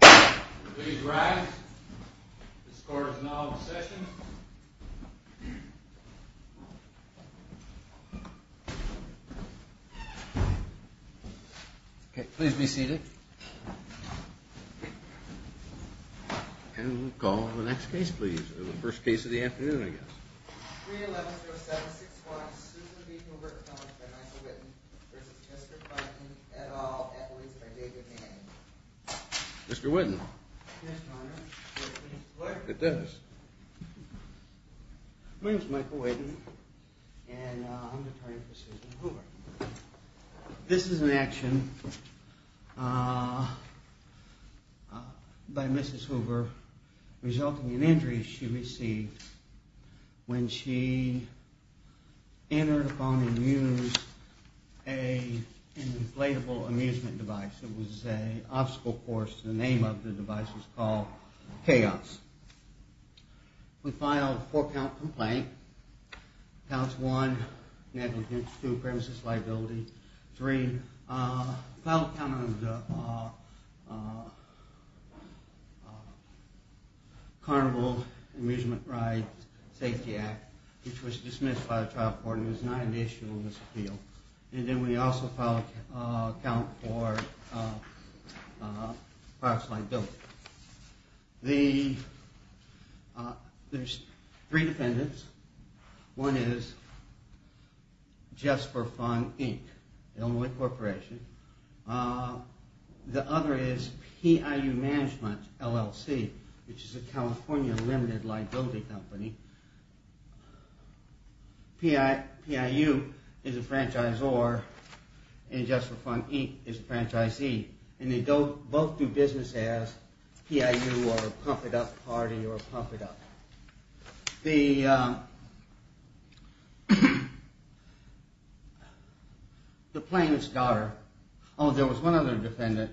Please rise. This court is now in session. Okay, please be seated. And call the next case please. The first case of the afternoon I guess. My name is Michael Waden and I'm the attorney for Susan Hoover. This is an action by Mrs. Hoover resulting in injuries she received when she entered upon and used an inflatable amusement device. It was an obstacle course. The name of the device was called Chaos. We filed a four count complaint. Counts one, negligence, two premises liability, three. We filed a count on the Carnival Amusement Ride Safety Act which was dismissed by the trial court and was not an issue in this appeal. And then we also filed a count for products like dope. There's three defendants. One is Jus For Fun Inc., the only corporation. The other is PIU Management LLC, which is a California limited liability company. PIU is a franchisor and Jus For Fun Inc. is a franchisee. And they both do business as PIU or Pump It Up Party or Pump It Up. The plaintiff's daughter, oh there was one other defendant,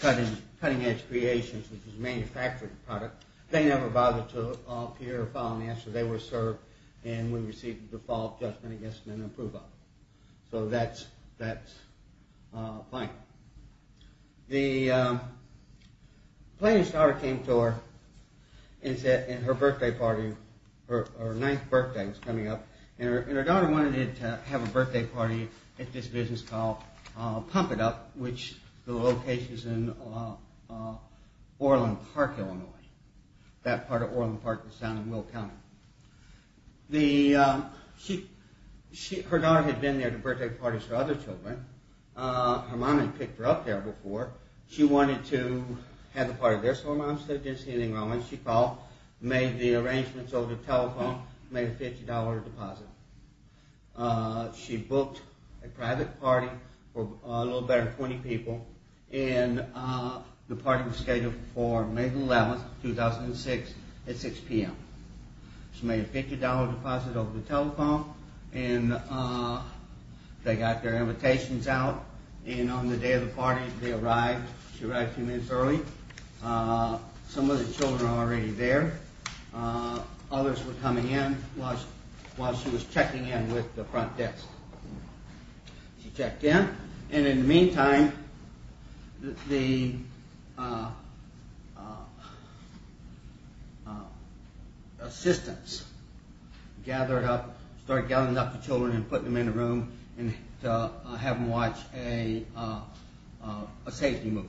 Cutting Edge Creations, which is a manufactured product. They never bothered to appear or file an answer. They were served and we received a default judgment against them and approval. So that's fine. The plaintiff's daughter came to her birthday party, her ninth birthday was coming up, and her daughter wanted to have a birthday party at this business called Pump It Up, which the location is in Orland Park, Illinois. That part of Orland Park was down in Will County. Her daughter had been there to birthday parties for other children. Her mom had picked her up there before. She wanted to have a party there so her mom said she didn't see anything wrong with it. She called, made the arrangements over the telephone, made a $50 deposit. She booked a private party for a little better than 20 people and the party was scheduled for May 11, 2006 at 6 p.m. She made a $50 deposit over the telephone and they got their invitations out and on the day of the party they arrived. She arrived a few minutes early. Some of the children were already there. Others were coming in while she was checking in with the front desk. She checked in and in the meantime the assistants started gathering up the children and putting them in a room to have them watch a safety movie.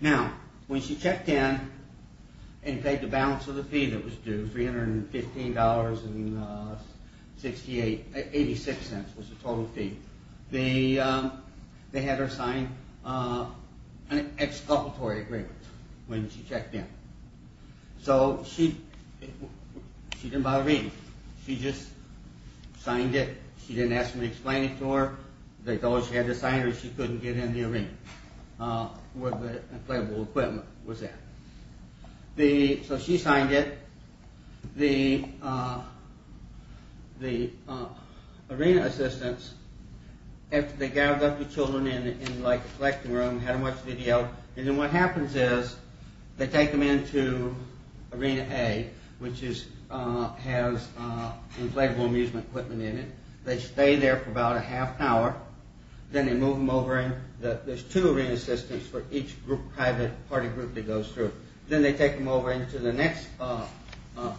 Now, when she checked in and paid the balance of the fee that was due, $315.86 was the total fee, they had her sign an exculpatory agreement when she checked in. So she didn't bother reading. She just signed it. She didn't ask me to explain it to her. The dollar she had to sign or she couldn't get in the arena where the inflatable equipment was at. So she signed it. The arena assistants, after they gathered up the children in a collecting room and had them watch a video, and then what happens is they take them into Arena A, which has inflatable amusement equipment in it. They stay there for about a half hour. Then they move them over in. There's two arena assistants for each private party group that goes through. Then they take them over into the next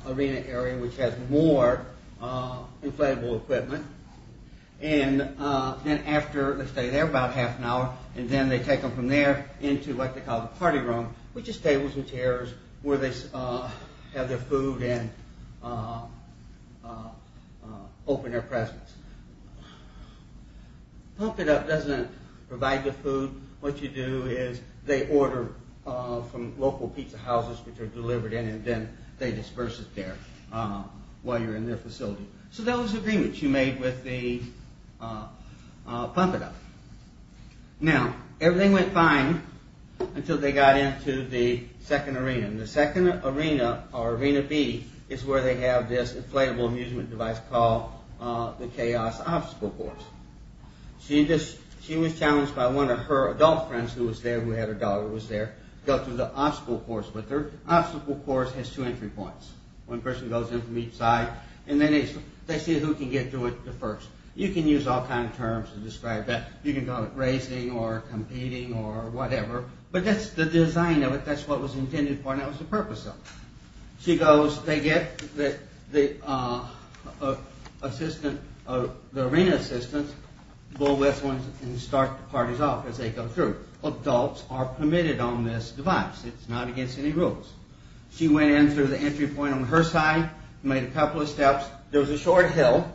arena area, which has more inflatable equipment. Then after they stay there about half an hour and then they take them from there into what they call the party room, which is tables and chairs where they have their food and open their presents. Pump It Up doesn't provide the food. What you do is they order from local pizza houses, which are delivered in and then they disperse it there while you're in their facility. So that was the agreement you made with the Pump It Up. Now, everything went fine until they got into the second arena. The second arena, or Arena B, is where they have this inflatable amusement device called the Chaos Obstacle Course. She was challenged by one of her adult friends who was there, who had her daughter who was there, to go through the obstacle course. But the obstacle course has two entry points. One person goes in from each side and then they see who can get through it first. You can use all kinds of terms to describe that. You can call it racing or competing or whatever. But that's the design of it. That's what it was intended for and that was the purpose of it. She goes, they get the arena assistants, bull wrestling, and start the parties off as they go through. Adults are permitted on this device. It's not against any rules. She went in through the entry point on her side, made a couple of steps. There was a short hill,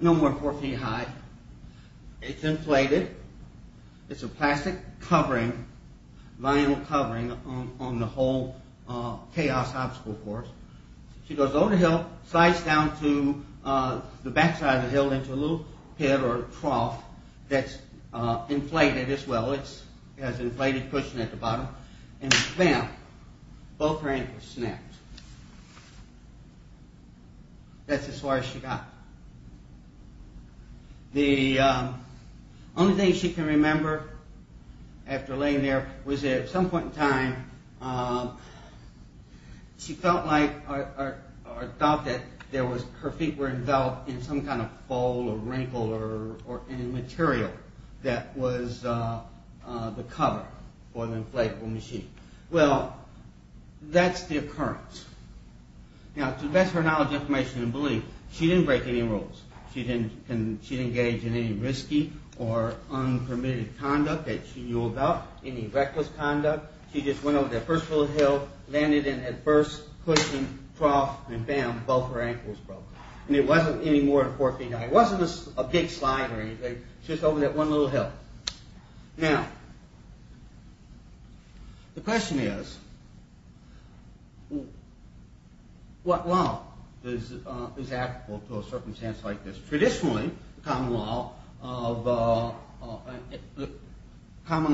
no more than four feet high. It's inflated. It's a plastic covering, vinyl covering on the whole Chaos Obstacle Course. She goes over the hill, slides down to the back side of the hill into a little pit or trough that's inflated as well. It has an inflated cushion at the bottom and bam, both her ankles snapped. That's as far as she got. The only thing she can remember after laying there was at some point in time, she felt like her feet were enveloped in some kind of fold or wrinkle or material that was the cover for the inflatable machine. Well, that's the occurrence. Now, to the best of her knowledge, information, and belief, she didn't break any rules. She didn't engage in any risky or unpermitted conduct that she knew about, any reckless conduct. She just went over that first little hill, landed in that first cushion, trough, and bam, both her ankles broke. It wasn't any more than four feet high. It wasn't a big slide or anything. She was over that one little hill. Now, the question is, what law is applicable to a circumstance like this? Traditionally, the common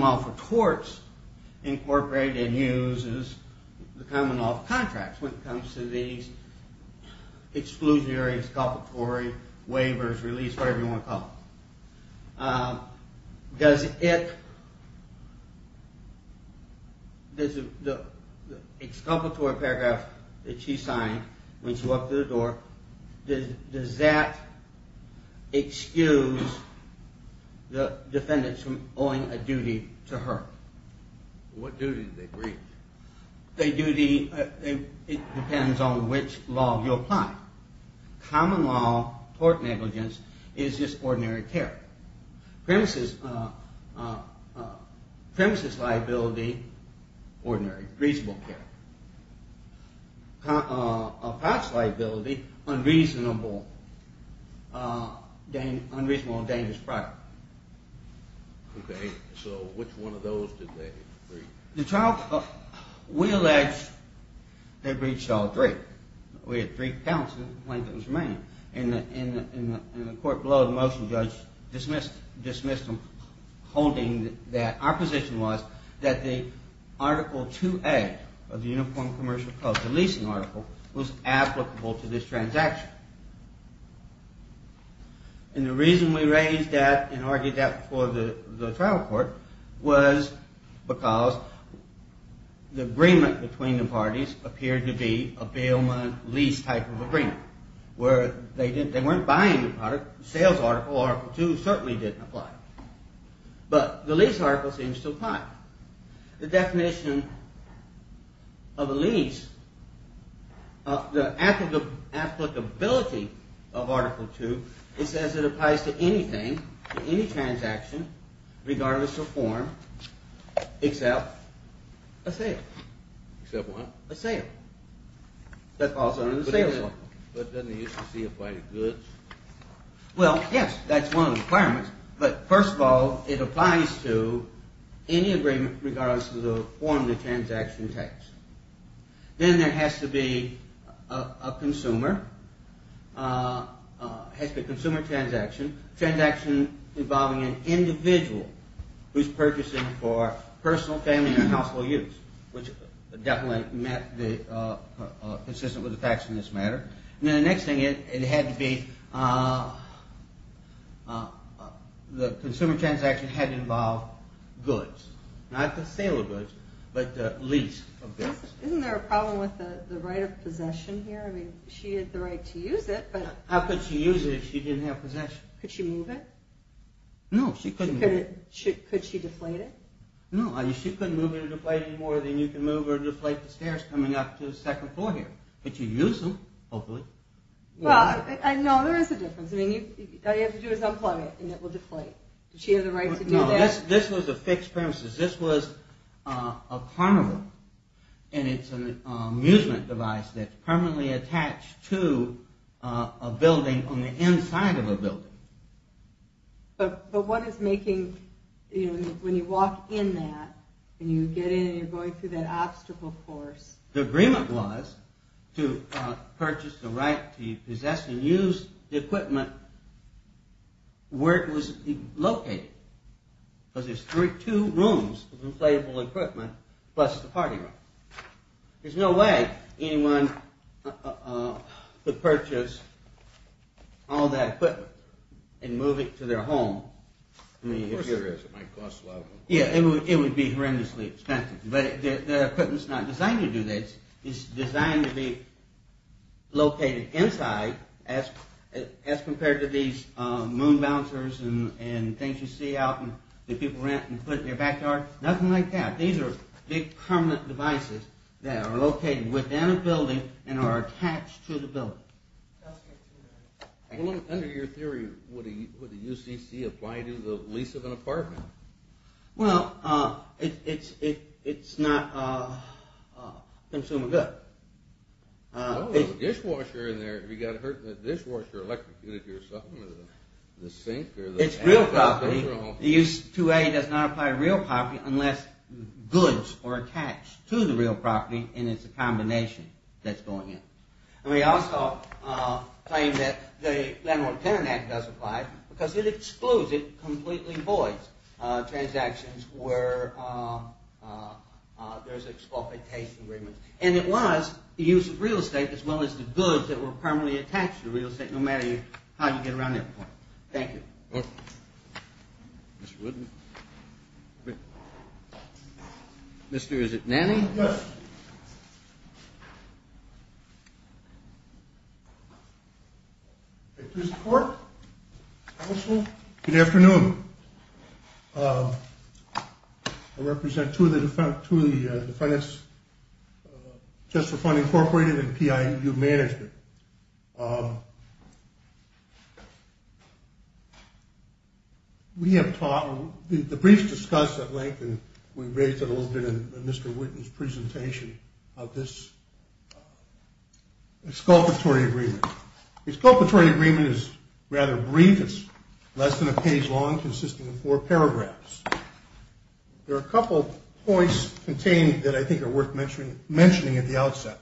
law for torts incorporate and uses the common law of contracts when it comes to these exclusionary, exculpatory, waivers, release, whatever you want to call it. Does it, the exculpatory paragraph that she signed when she walked through the door, does that excuse the defendants from owing a duty to her? What duty did they breach? A duty, it depends on which law you apply. Common law, tort negligence, is just ordinary care. Premises liability, ordinary, reasonable care. Approx liability, unreasonable, dangerous product. Okay, so which one of those did they breach? The trial, we allege they breached all three. We had three counts of complaint that was remaining. In the court below, the motion judge dismissed them, holding that our position was that the Article 2A of the Uniform Commercial Code, the leasing article, was applicable to this transaction. And the reason we raised that and argued that before the trial court was because the agreement between the parties appeared to be a bailment lease type of agreement where they weren't buying the product. The sales article, Article 2, certainly didn't apply. But the lease article seems to apply. The definition of a lease, the applicability of Article 2, it says it applies to anything, to any transaction, regardless of form, except a sale. Except what? A sale. That falls under the sales law. But doesn't the UCC apply to goods? Well, yes, that's one of the requirements. But first of all, it applies to any agreement, regardless of the form the transaction takes. Then there has to be a consumer, has to be a consumer transaction, transaction involving an individual who's purchasing for personal, family, and household use, which definitely met the, consistent with the facts in this matter. And then the next thing, it had to be, the consumer transaction had to involve goods. Not the sale of goods, but the lease of goods. Isn't there a problem with the right of possession here? I mean, she had the right to use it, but... How could she use it if she didn't have possession? Could she move it? No, she couldn't move it. Could she deflate it? No, she couldn't move it or deflate it any more than you can move or deflate the stairs coming up to the second floor here. But you use them, hopefully. Well, no, there is a difference. All you have to do is unplug it, and it will deflate. Did she have the right to do that? No, this was a fixed premises. This was a carnival. And it's an amusement device that's permanently attached to a building on the inside of a building. But what is making, you know, when you walk in that, and you get in and you're going through that obstacle course... The agreement was to purchase the right to possess and use the equipment where it was located. Because there's two rooms of inflatable equipment plus the party room. There's no way anyone could purchase all that equipment and move it to their home. Of course there is. It might cost a lot of money. Yeah, it would be horrendously expensive. But the equipment's not designed to do this. It's designed to be located inside as compared to these moon bouncers and things you see out that people rent and put in their backyard. Nothing like that. These are big permanent devices that are located within a building and are attached to the building. Under your theory, would the UCC apply to the lease of an apartment? Well, it's not a consumer good. Oh, there's a dishwasher in there. Have you gotten hurt in the dishwasher or electric unit yourself or the sink? It's real property. The U.S. 2A does not apply to real property unless goods are attached to the real property and it's a combination that's going in. And we also claim that the Landlord-Tenant Act does apply because it excludes, it completely voids transactions where there's a disqualification agreement. And it was the use of real estate as well as the goods that were permanently attached to real estate, no matter how you get around that point. Thank you. Okay. Mr. Wooden. Mr. Nanny. Yes. Mr. Cork. Counsel. Good afternoon. I represent two of the defendants, Just for Fund Incorporated and PIU Management. We have talked, the briefs discussed at length, and we raised it a little bit in Mr. Wooden's presentation, of this exculpatory agreement. The exculpatory agreement is rather brief. It's less than a page long, consisting of four paragraphs. There are a couple points contained that I think are worth mentioning at the outset.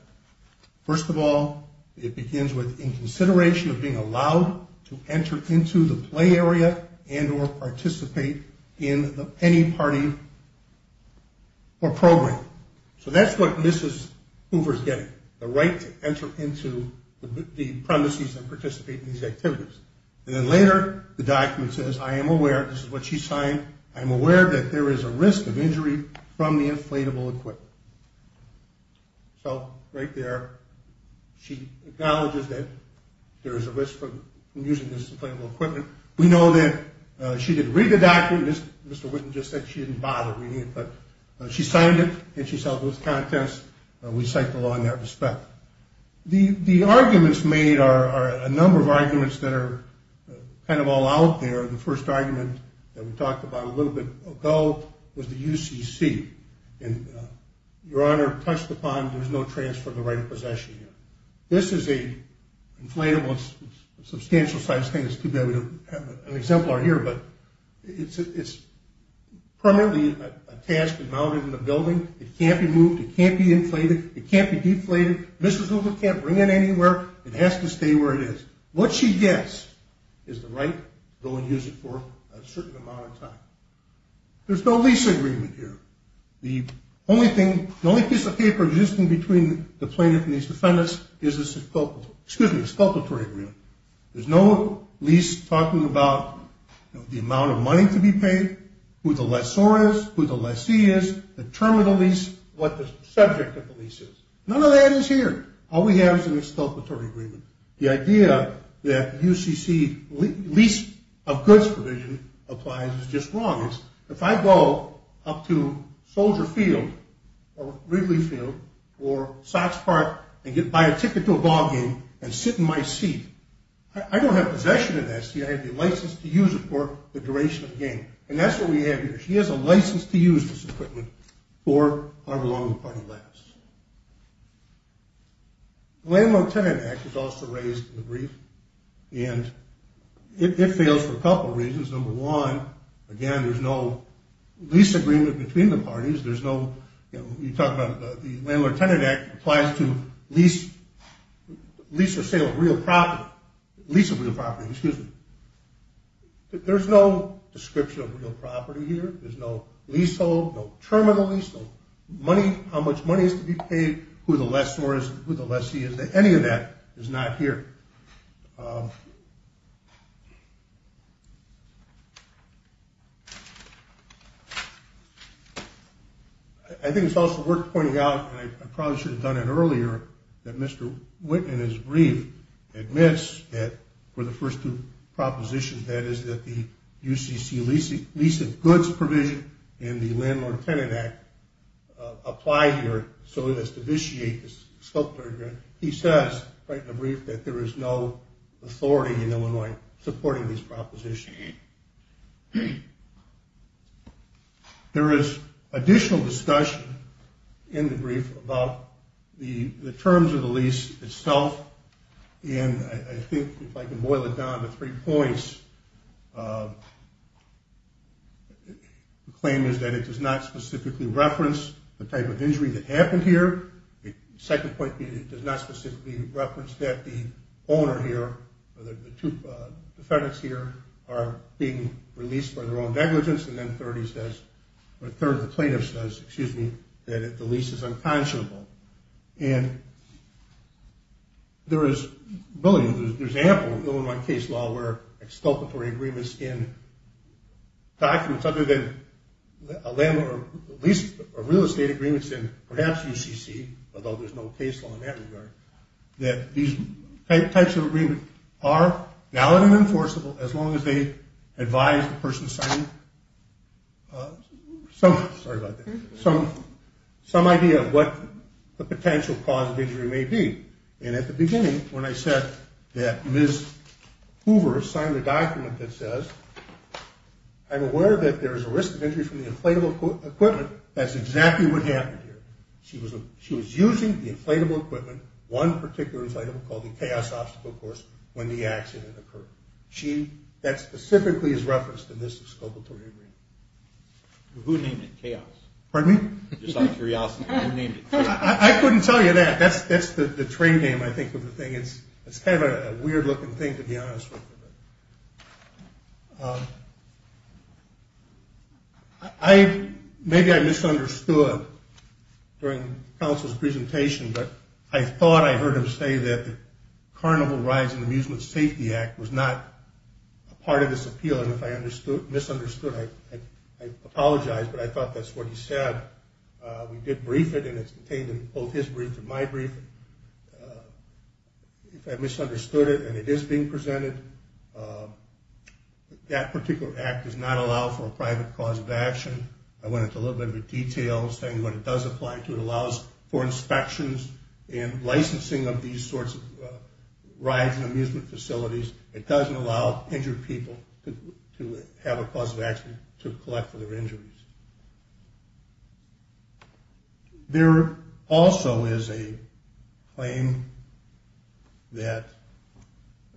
First of all, it begins with, in consideration of being allowed to enter into the play area and or participate in any party or program. So that's what Mrs. Hoover is getting, the right to enter into the premises and participate in these activities. And then later, the document says, I am aware, this is what she signed, I am aware that there is a risk of injury from the inflatable equipment. So, right there, she acknowledges that there is a risk from using this inflatable equipment. We know that she didn't read the document, Mr. Wooden just said she didn't bother reading it, but she signed it and she saw those contents and we cite the law in that respect. The arguments made are a number of arguments that are kind of all out there. The first argument that we talked about a little bit ago was the UCC. Your Honor, touched upon, there is no transfer of the right of possession here. This is an inflatable, substantial sized thing, it's too bad we don't have an exemplar here, but it's primarily attached and mounted in the building. It can't be moved, it can't be inflated, it can't be deflated. Mrs. Hoover can't bring it anywhere. It has to stay where it is. What she gets is the right to go and use it for a certain amount of time. There's no lease agreement here. The only piece of paper existing between the plaintiff and these defendants is the exculpatory agreement. There's no lease talking about the amount of money to be paid, who the lessor is, who the lessee is, the term of the lease, what the subject of the lease is. None of that is here. All we have is an exculpatory agreement. The idea that UCC lease of goods provision applies is just wrong. If I go up to Soldier Field or Wrigley Field or Sox Park and buy a ticket to a ball game and sit in my seat, I don't have possession of that seat, I have the license to use it for the duration of the game. And that's what we have here. She has a license to use this equipment for however long the party lasts. The Landlord-Tenant Act is also raised in the brief, and it fails for a couple of reasons. Number one, again, there's no lease agreement between the parties. There's no, you know, you talk about the Landlord-Tenant Act applies to lease or sale of real property, lease of real property, excuse me. There's no description of real property here. There's no leasehold, no terminal leasehold. Money, how much money is to be paid, who the lessor is, who the lessee is. Any of that is not here. I think it's also worth pointing out, and I probably should have done it earlier, that Mr. Witt in his brief admits that for the first two propositions, that is that the UCC lease of goods provision and the Landlord-Tenant Act apply here so as to vitiate this scope agreement. He says, right in the brief, that there is no authority in Illinois supporting these propositions. There is additional discussion in the brief about the terms of the lease itself, and I think if I can boil it down to three points, the claim is that it does not specifically reference the type of injury that happened here. The second point is that it does not specifically reference that the owner here, the two defendants here are being released for their own negligence, and then the third of the plaintiffs says, excuse me, that the lease is unconscionable. And there is ample Illinois case law where exculpatory agreements in documents other than a landlord lease or real estate agreements in perhaps UCC, although there's no case law in that regard, that these types of agreements are valid and enforceable as long as they advise the person signing. Sorry about that. Some idea of what the potential cause of injury may be, and at the beginning when I said that Ms. Hoover signed a document that says, I'm aware that there's a risk of injury from the inflatable equipment, that's exactly what happened here. She was using the inflatable equipment, one particular item called the chaos obstacle course, when the accident occurred. That specifically is referenced in this exculpatory agreement. Who named it chaos? Pardon me? Just out of curiosity, who named it chaos? I couldn't tell you that. That's the trade name I think of the thing. It's kind of a weird looking thing to be honest with you. Maybe I misunderstood during counsel's presentation, but I thought I heard him say that the Carnival Rides and Amusement Safety Act was not part of this appeal, and if I misunderstood, I apologize, but I thought that's what he said. We did brief it, and it's contained in both his brief and my brief. If I misunderstood it, and it is being presented, that particular act does not allow for a private cause of action. I went into a little bit of detail saying what it does apply to. It allows for inspections and licensing of these sorts of rides and amusement facilities. It doesn't allow injured people to have a cause of action to collect for their injuries. There also is a claim that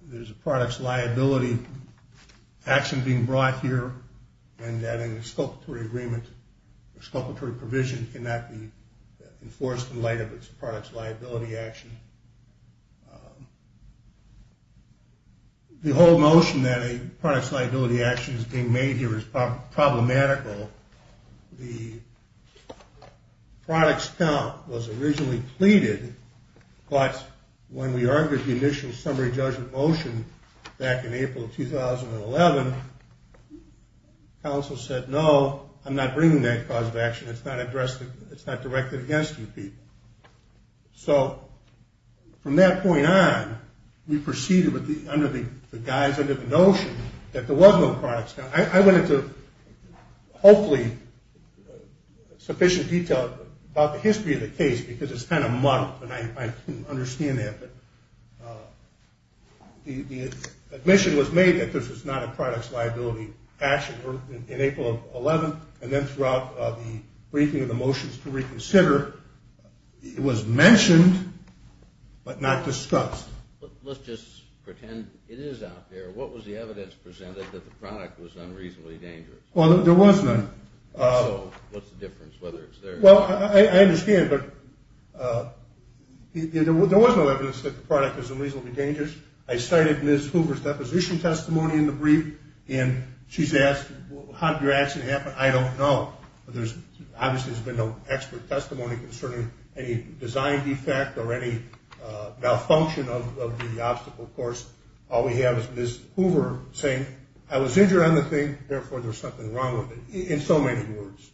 there's a products liability action being brought here, and that an exculpatory provision cannot be enforced in light of its products liability action. The whole motion that a products liability action is being made here is problematical. The products count was originally pleaded, but when we argued the initial summary judgment motion back in April 2011, counsel said, no, I'm not bringing that cause of action. It's not directed against you people. So from that point on, we proceeded under the guise, under the notion, that there was no products. I went into, hopefully, sufficient detail about the history of the case, because it's kind of muddled, and I can understand that, but the admission was made that this was not a products liability action. In April of 2011, and then throughout the briefing of the motions to reconsider, it was mentioned, but not discussed. Let's just pretend it is out there. What was the evidence presented that the product was unreasonably dangerous? Well, there was none. So what's the difference, whether it's there or not? Well, I understand, but there was no evidence that the product was unreasonably dangerous. I cited Ms. Hoover's deposition testimony in the brief, and she's asked, how did your accident happen? I don't know. Obviously, there's been no expert testimony concerning any design defect or any malfunction of the obstacle course. All we have is Ms. Hoover saying, I was injured on the thing, therefore, there's something wrong with it, in so many words.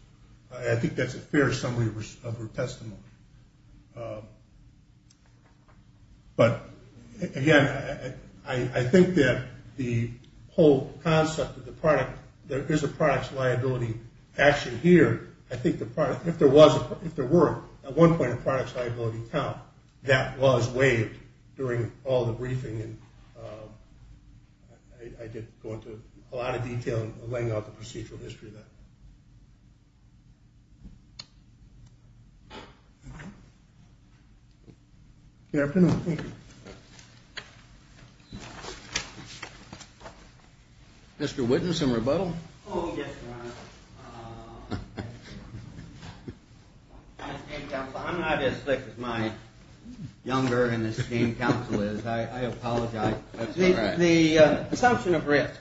I think that's a fair summary of her testimony. But, again, I think that the whole concept of the product, there is a products liability action here. I think if there were, at one point, a products liability count, that was waived during all the briefing. I didn't go into a lot of detail in laying out the procedural history of that. Good afternoon. Thank you. Mr. Whitten, some rebuttal? Oh, yes, Your Honor. I'm not as slick as my younger and esteemed counsel is. I apologize. That's all right. The assumption of risk.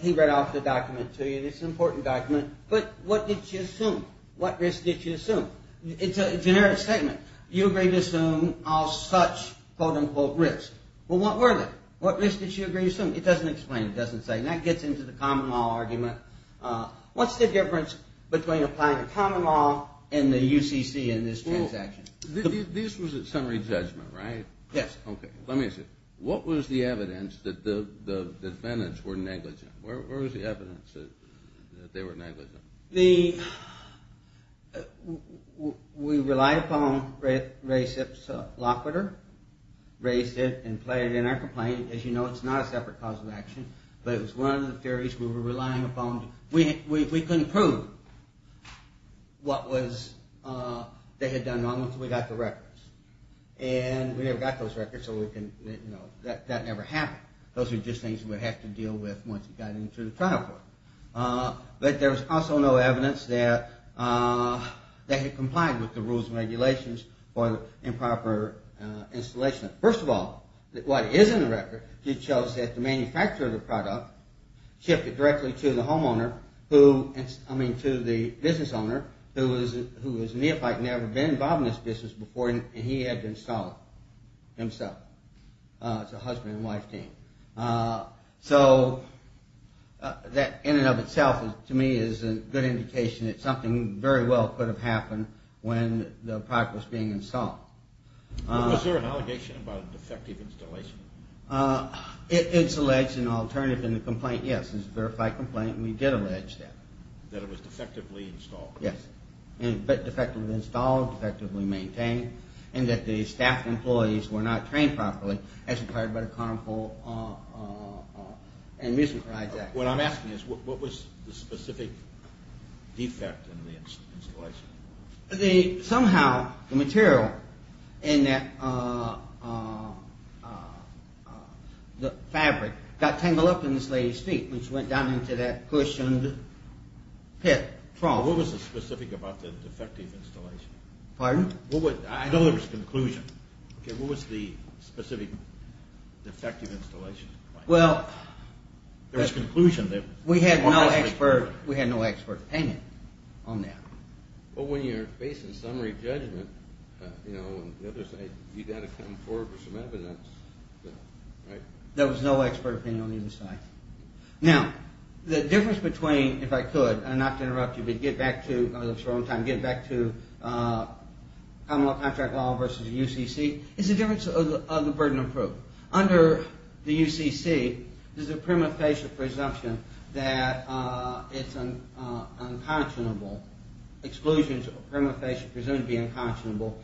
He read off the document to you. It's an important document. But what did you assume? What risk did you assume? It's a generic statement. You agreed to assume all such, quote, unquote, risk. Well, what were they? What risk did you agree to assume? It doesn't explain. It doesn't say. And that gets into the common law argument. What's the difference between applying the common law and the UCC in this transaction? This was a summary judgment, right? Yes. Okay. Let me ask you. What was the evidence that the defendants were negligent? Where was the evidence that they were negligent? The ‑‑ we relied upon Ray Sips Lockwooder, raised it and played it in our complaint. As you know, it's not a separate cause of action. But it was one of the theories we were relying upon. We couldn't prove what was ‑‑ they had done wrong until we got the records. And we never got those records, so we can, you know, that never happened. Those were just things we would have to deal with once we got into the trial court. But there was also no evidence that they had complied with the rules and regulations for improper installation. First of all, what is in the record just shows that the manufacturer of the product shipped it directly to the homeowner who, I mean, to the business owner who was neophyte and never been involved in this business before, and he had to install it himself. It's a husband and wife thing. So that in and of itself to me is a good indication that something very well could have happened when the product was being installed. Was there an allegation about a defective installation? It's alleged in alternative in the complaint, yes. It's a verified complaint, and we did allege that. That it was defectively installed. Yes. And defectively installed, defectively maintained, and that the staff employees were not trained properly as required by the Carnival and Music Project. What I'm asking is what was the specific defect in the installation? Somehow the material in that fabric got tangled up in this lady's feet when she went down into that cushioned pit, trough. What was the specific about the defective installation? Pardon? I know there was a conclusion. What was the specific defective installation? Well, we had no expert opinion on that. Well, when you're facing summary judgment, you've got to come forward with some evidence. There was no expert opinion on either side. Now, the difference between, if I could, not to interrupt you, but get back to Commonwealth Contract Law versus UCC, is the difference of the burden of proof. Under the UCC, there's a prima facie presumption that it's an unconscionable exclusion, prima facie presumed to be unconscionable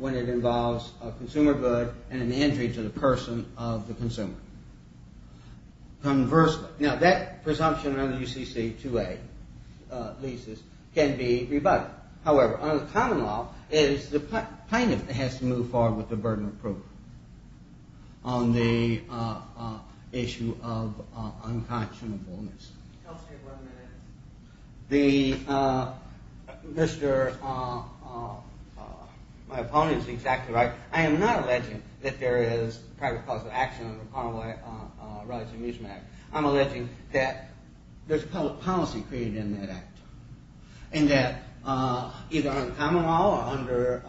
when it involves a consumer good and an injury to the person of the consumer. Conversely, now that presumption under the UCC 2A leases can be rebutted. However, under the common law, it is the plaintiff that has to move forward with the burden of proof on the issue of unconscionableness. I'll stay one minute. The, Mr., my opponent is exactly right. I am not alleging that there is private cause of action under the Commonwealth Rights and Amusement Act. I'm alleging that there's public policy created in that act and that either on common law or under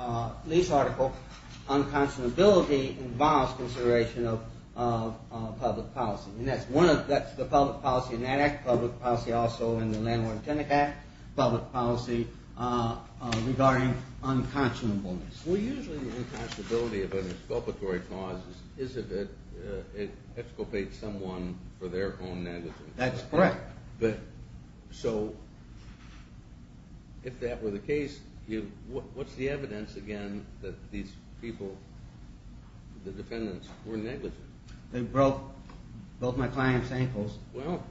lease article, unconscionability involves consideration of public policy. And that's one of, that's the public policy in that act, public policy also in the Landlord-Tenant Act, public policy regarding unconscionableness. Well, usually the unconscionability of an exculpatory cause is if it exculpates someone for their own negligence. That's correct. But, so, if that were the case, what's the evidence, again, that these people, the defendants, were negligent? They broke both my client's ankles. Well,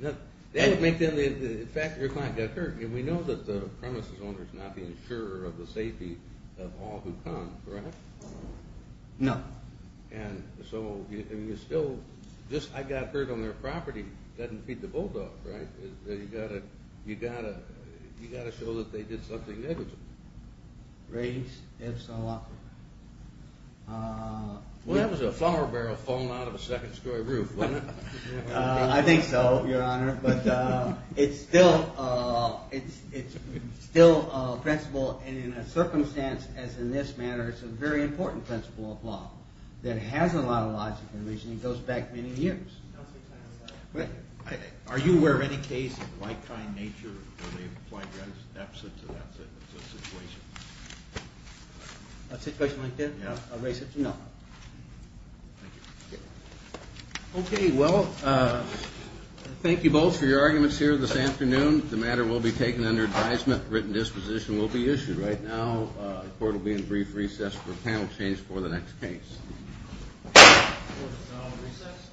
that would make them, in fact, your client got hurt. And we know that the premises owner is not the insurer of the safety of all who come, correct? No. And so, and you still, just, I got hurt on their property, doesn't beat the bulldog, right? You got to, you got to, you got to show that they did something negligent. Raise if so often. Well, that was a flower barrel falling out of a second-story roof, wasn't it? I think so, Your Honor, but it's still a principle, and in a circumstance as in this matter, it's a very important principle of law that has a lot of logic in relation and goes back many years. Are you aware of any case of like-kind nature where they applied the opposite to that situation? A situation like that? Yeah. No. Thank you. Okay, well, thank you both for your arguments here this afternoon. The matter will be taken under advisement. Written disposition will be issued right now. Court will be in brief recess for panel change for the next case. Court is now in recess.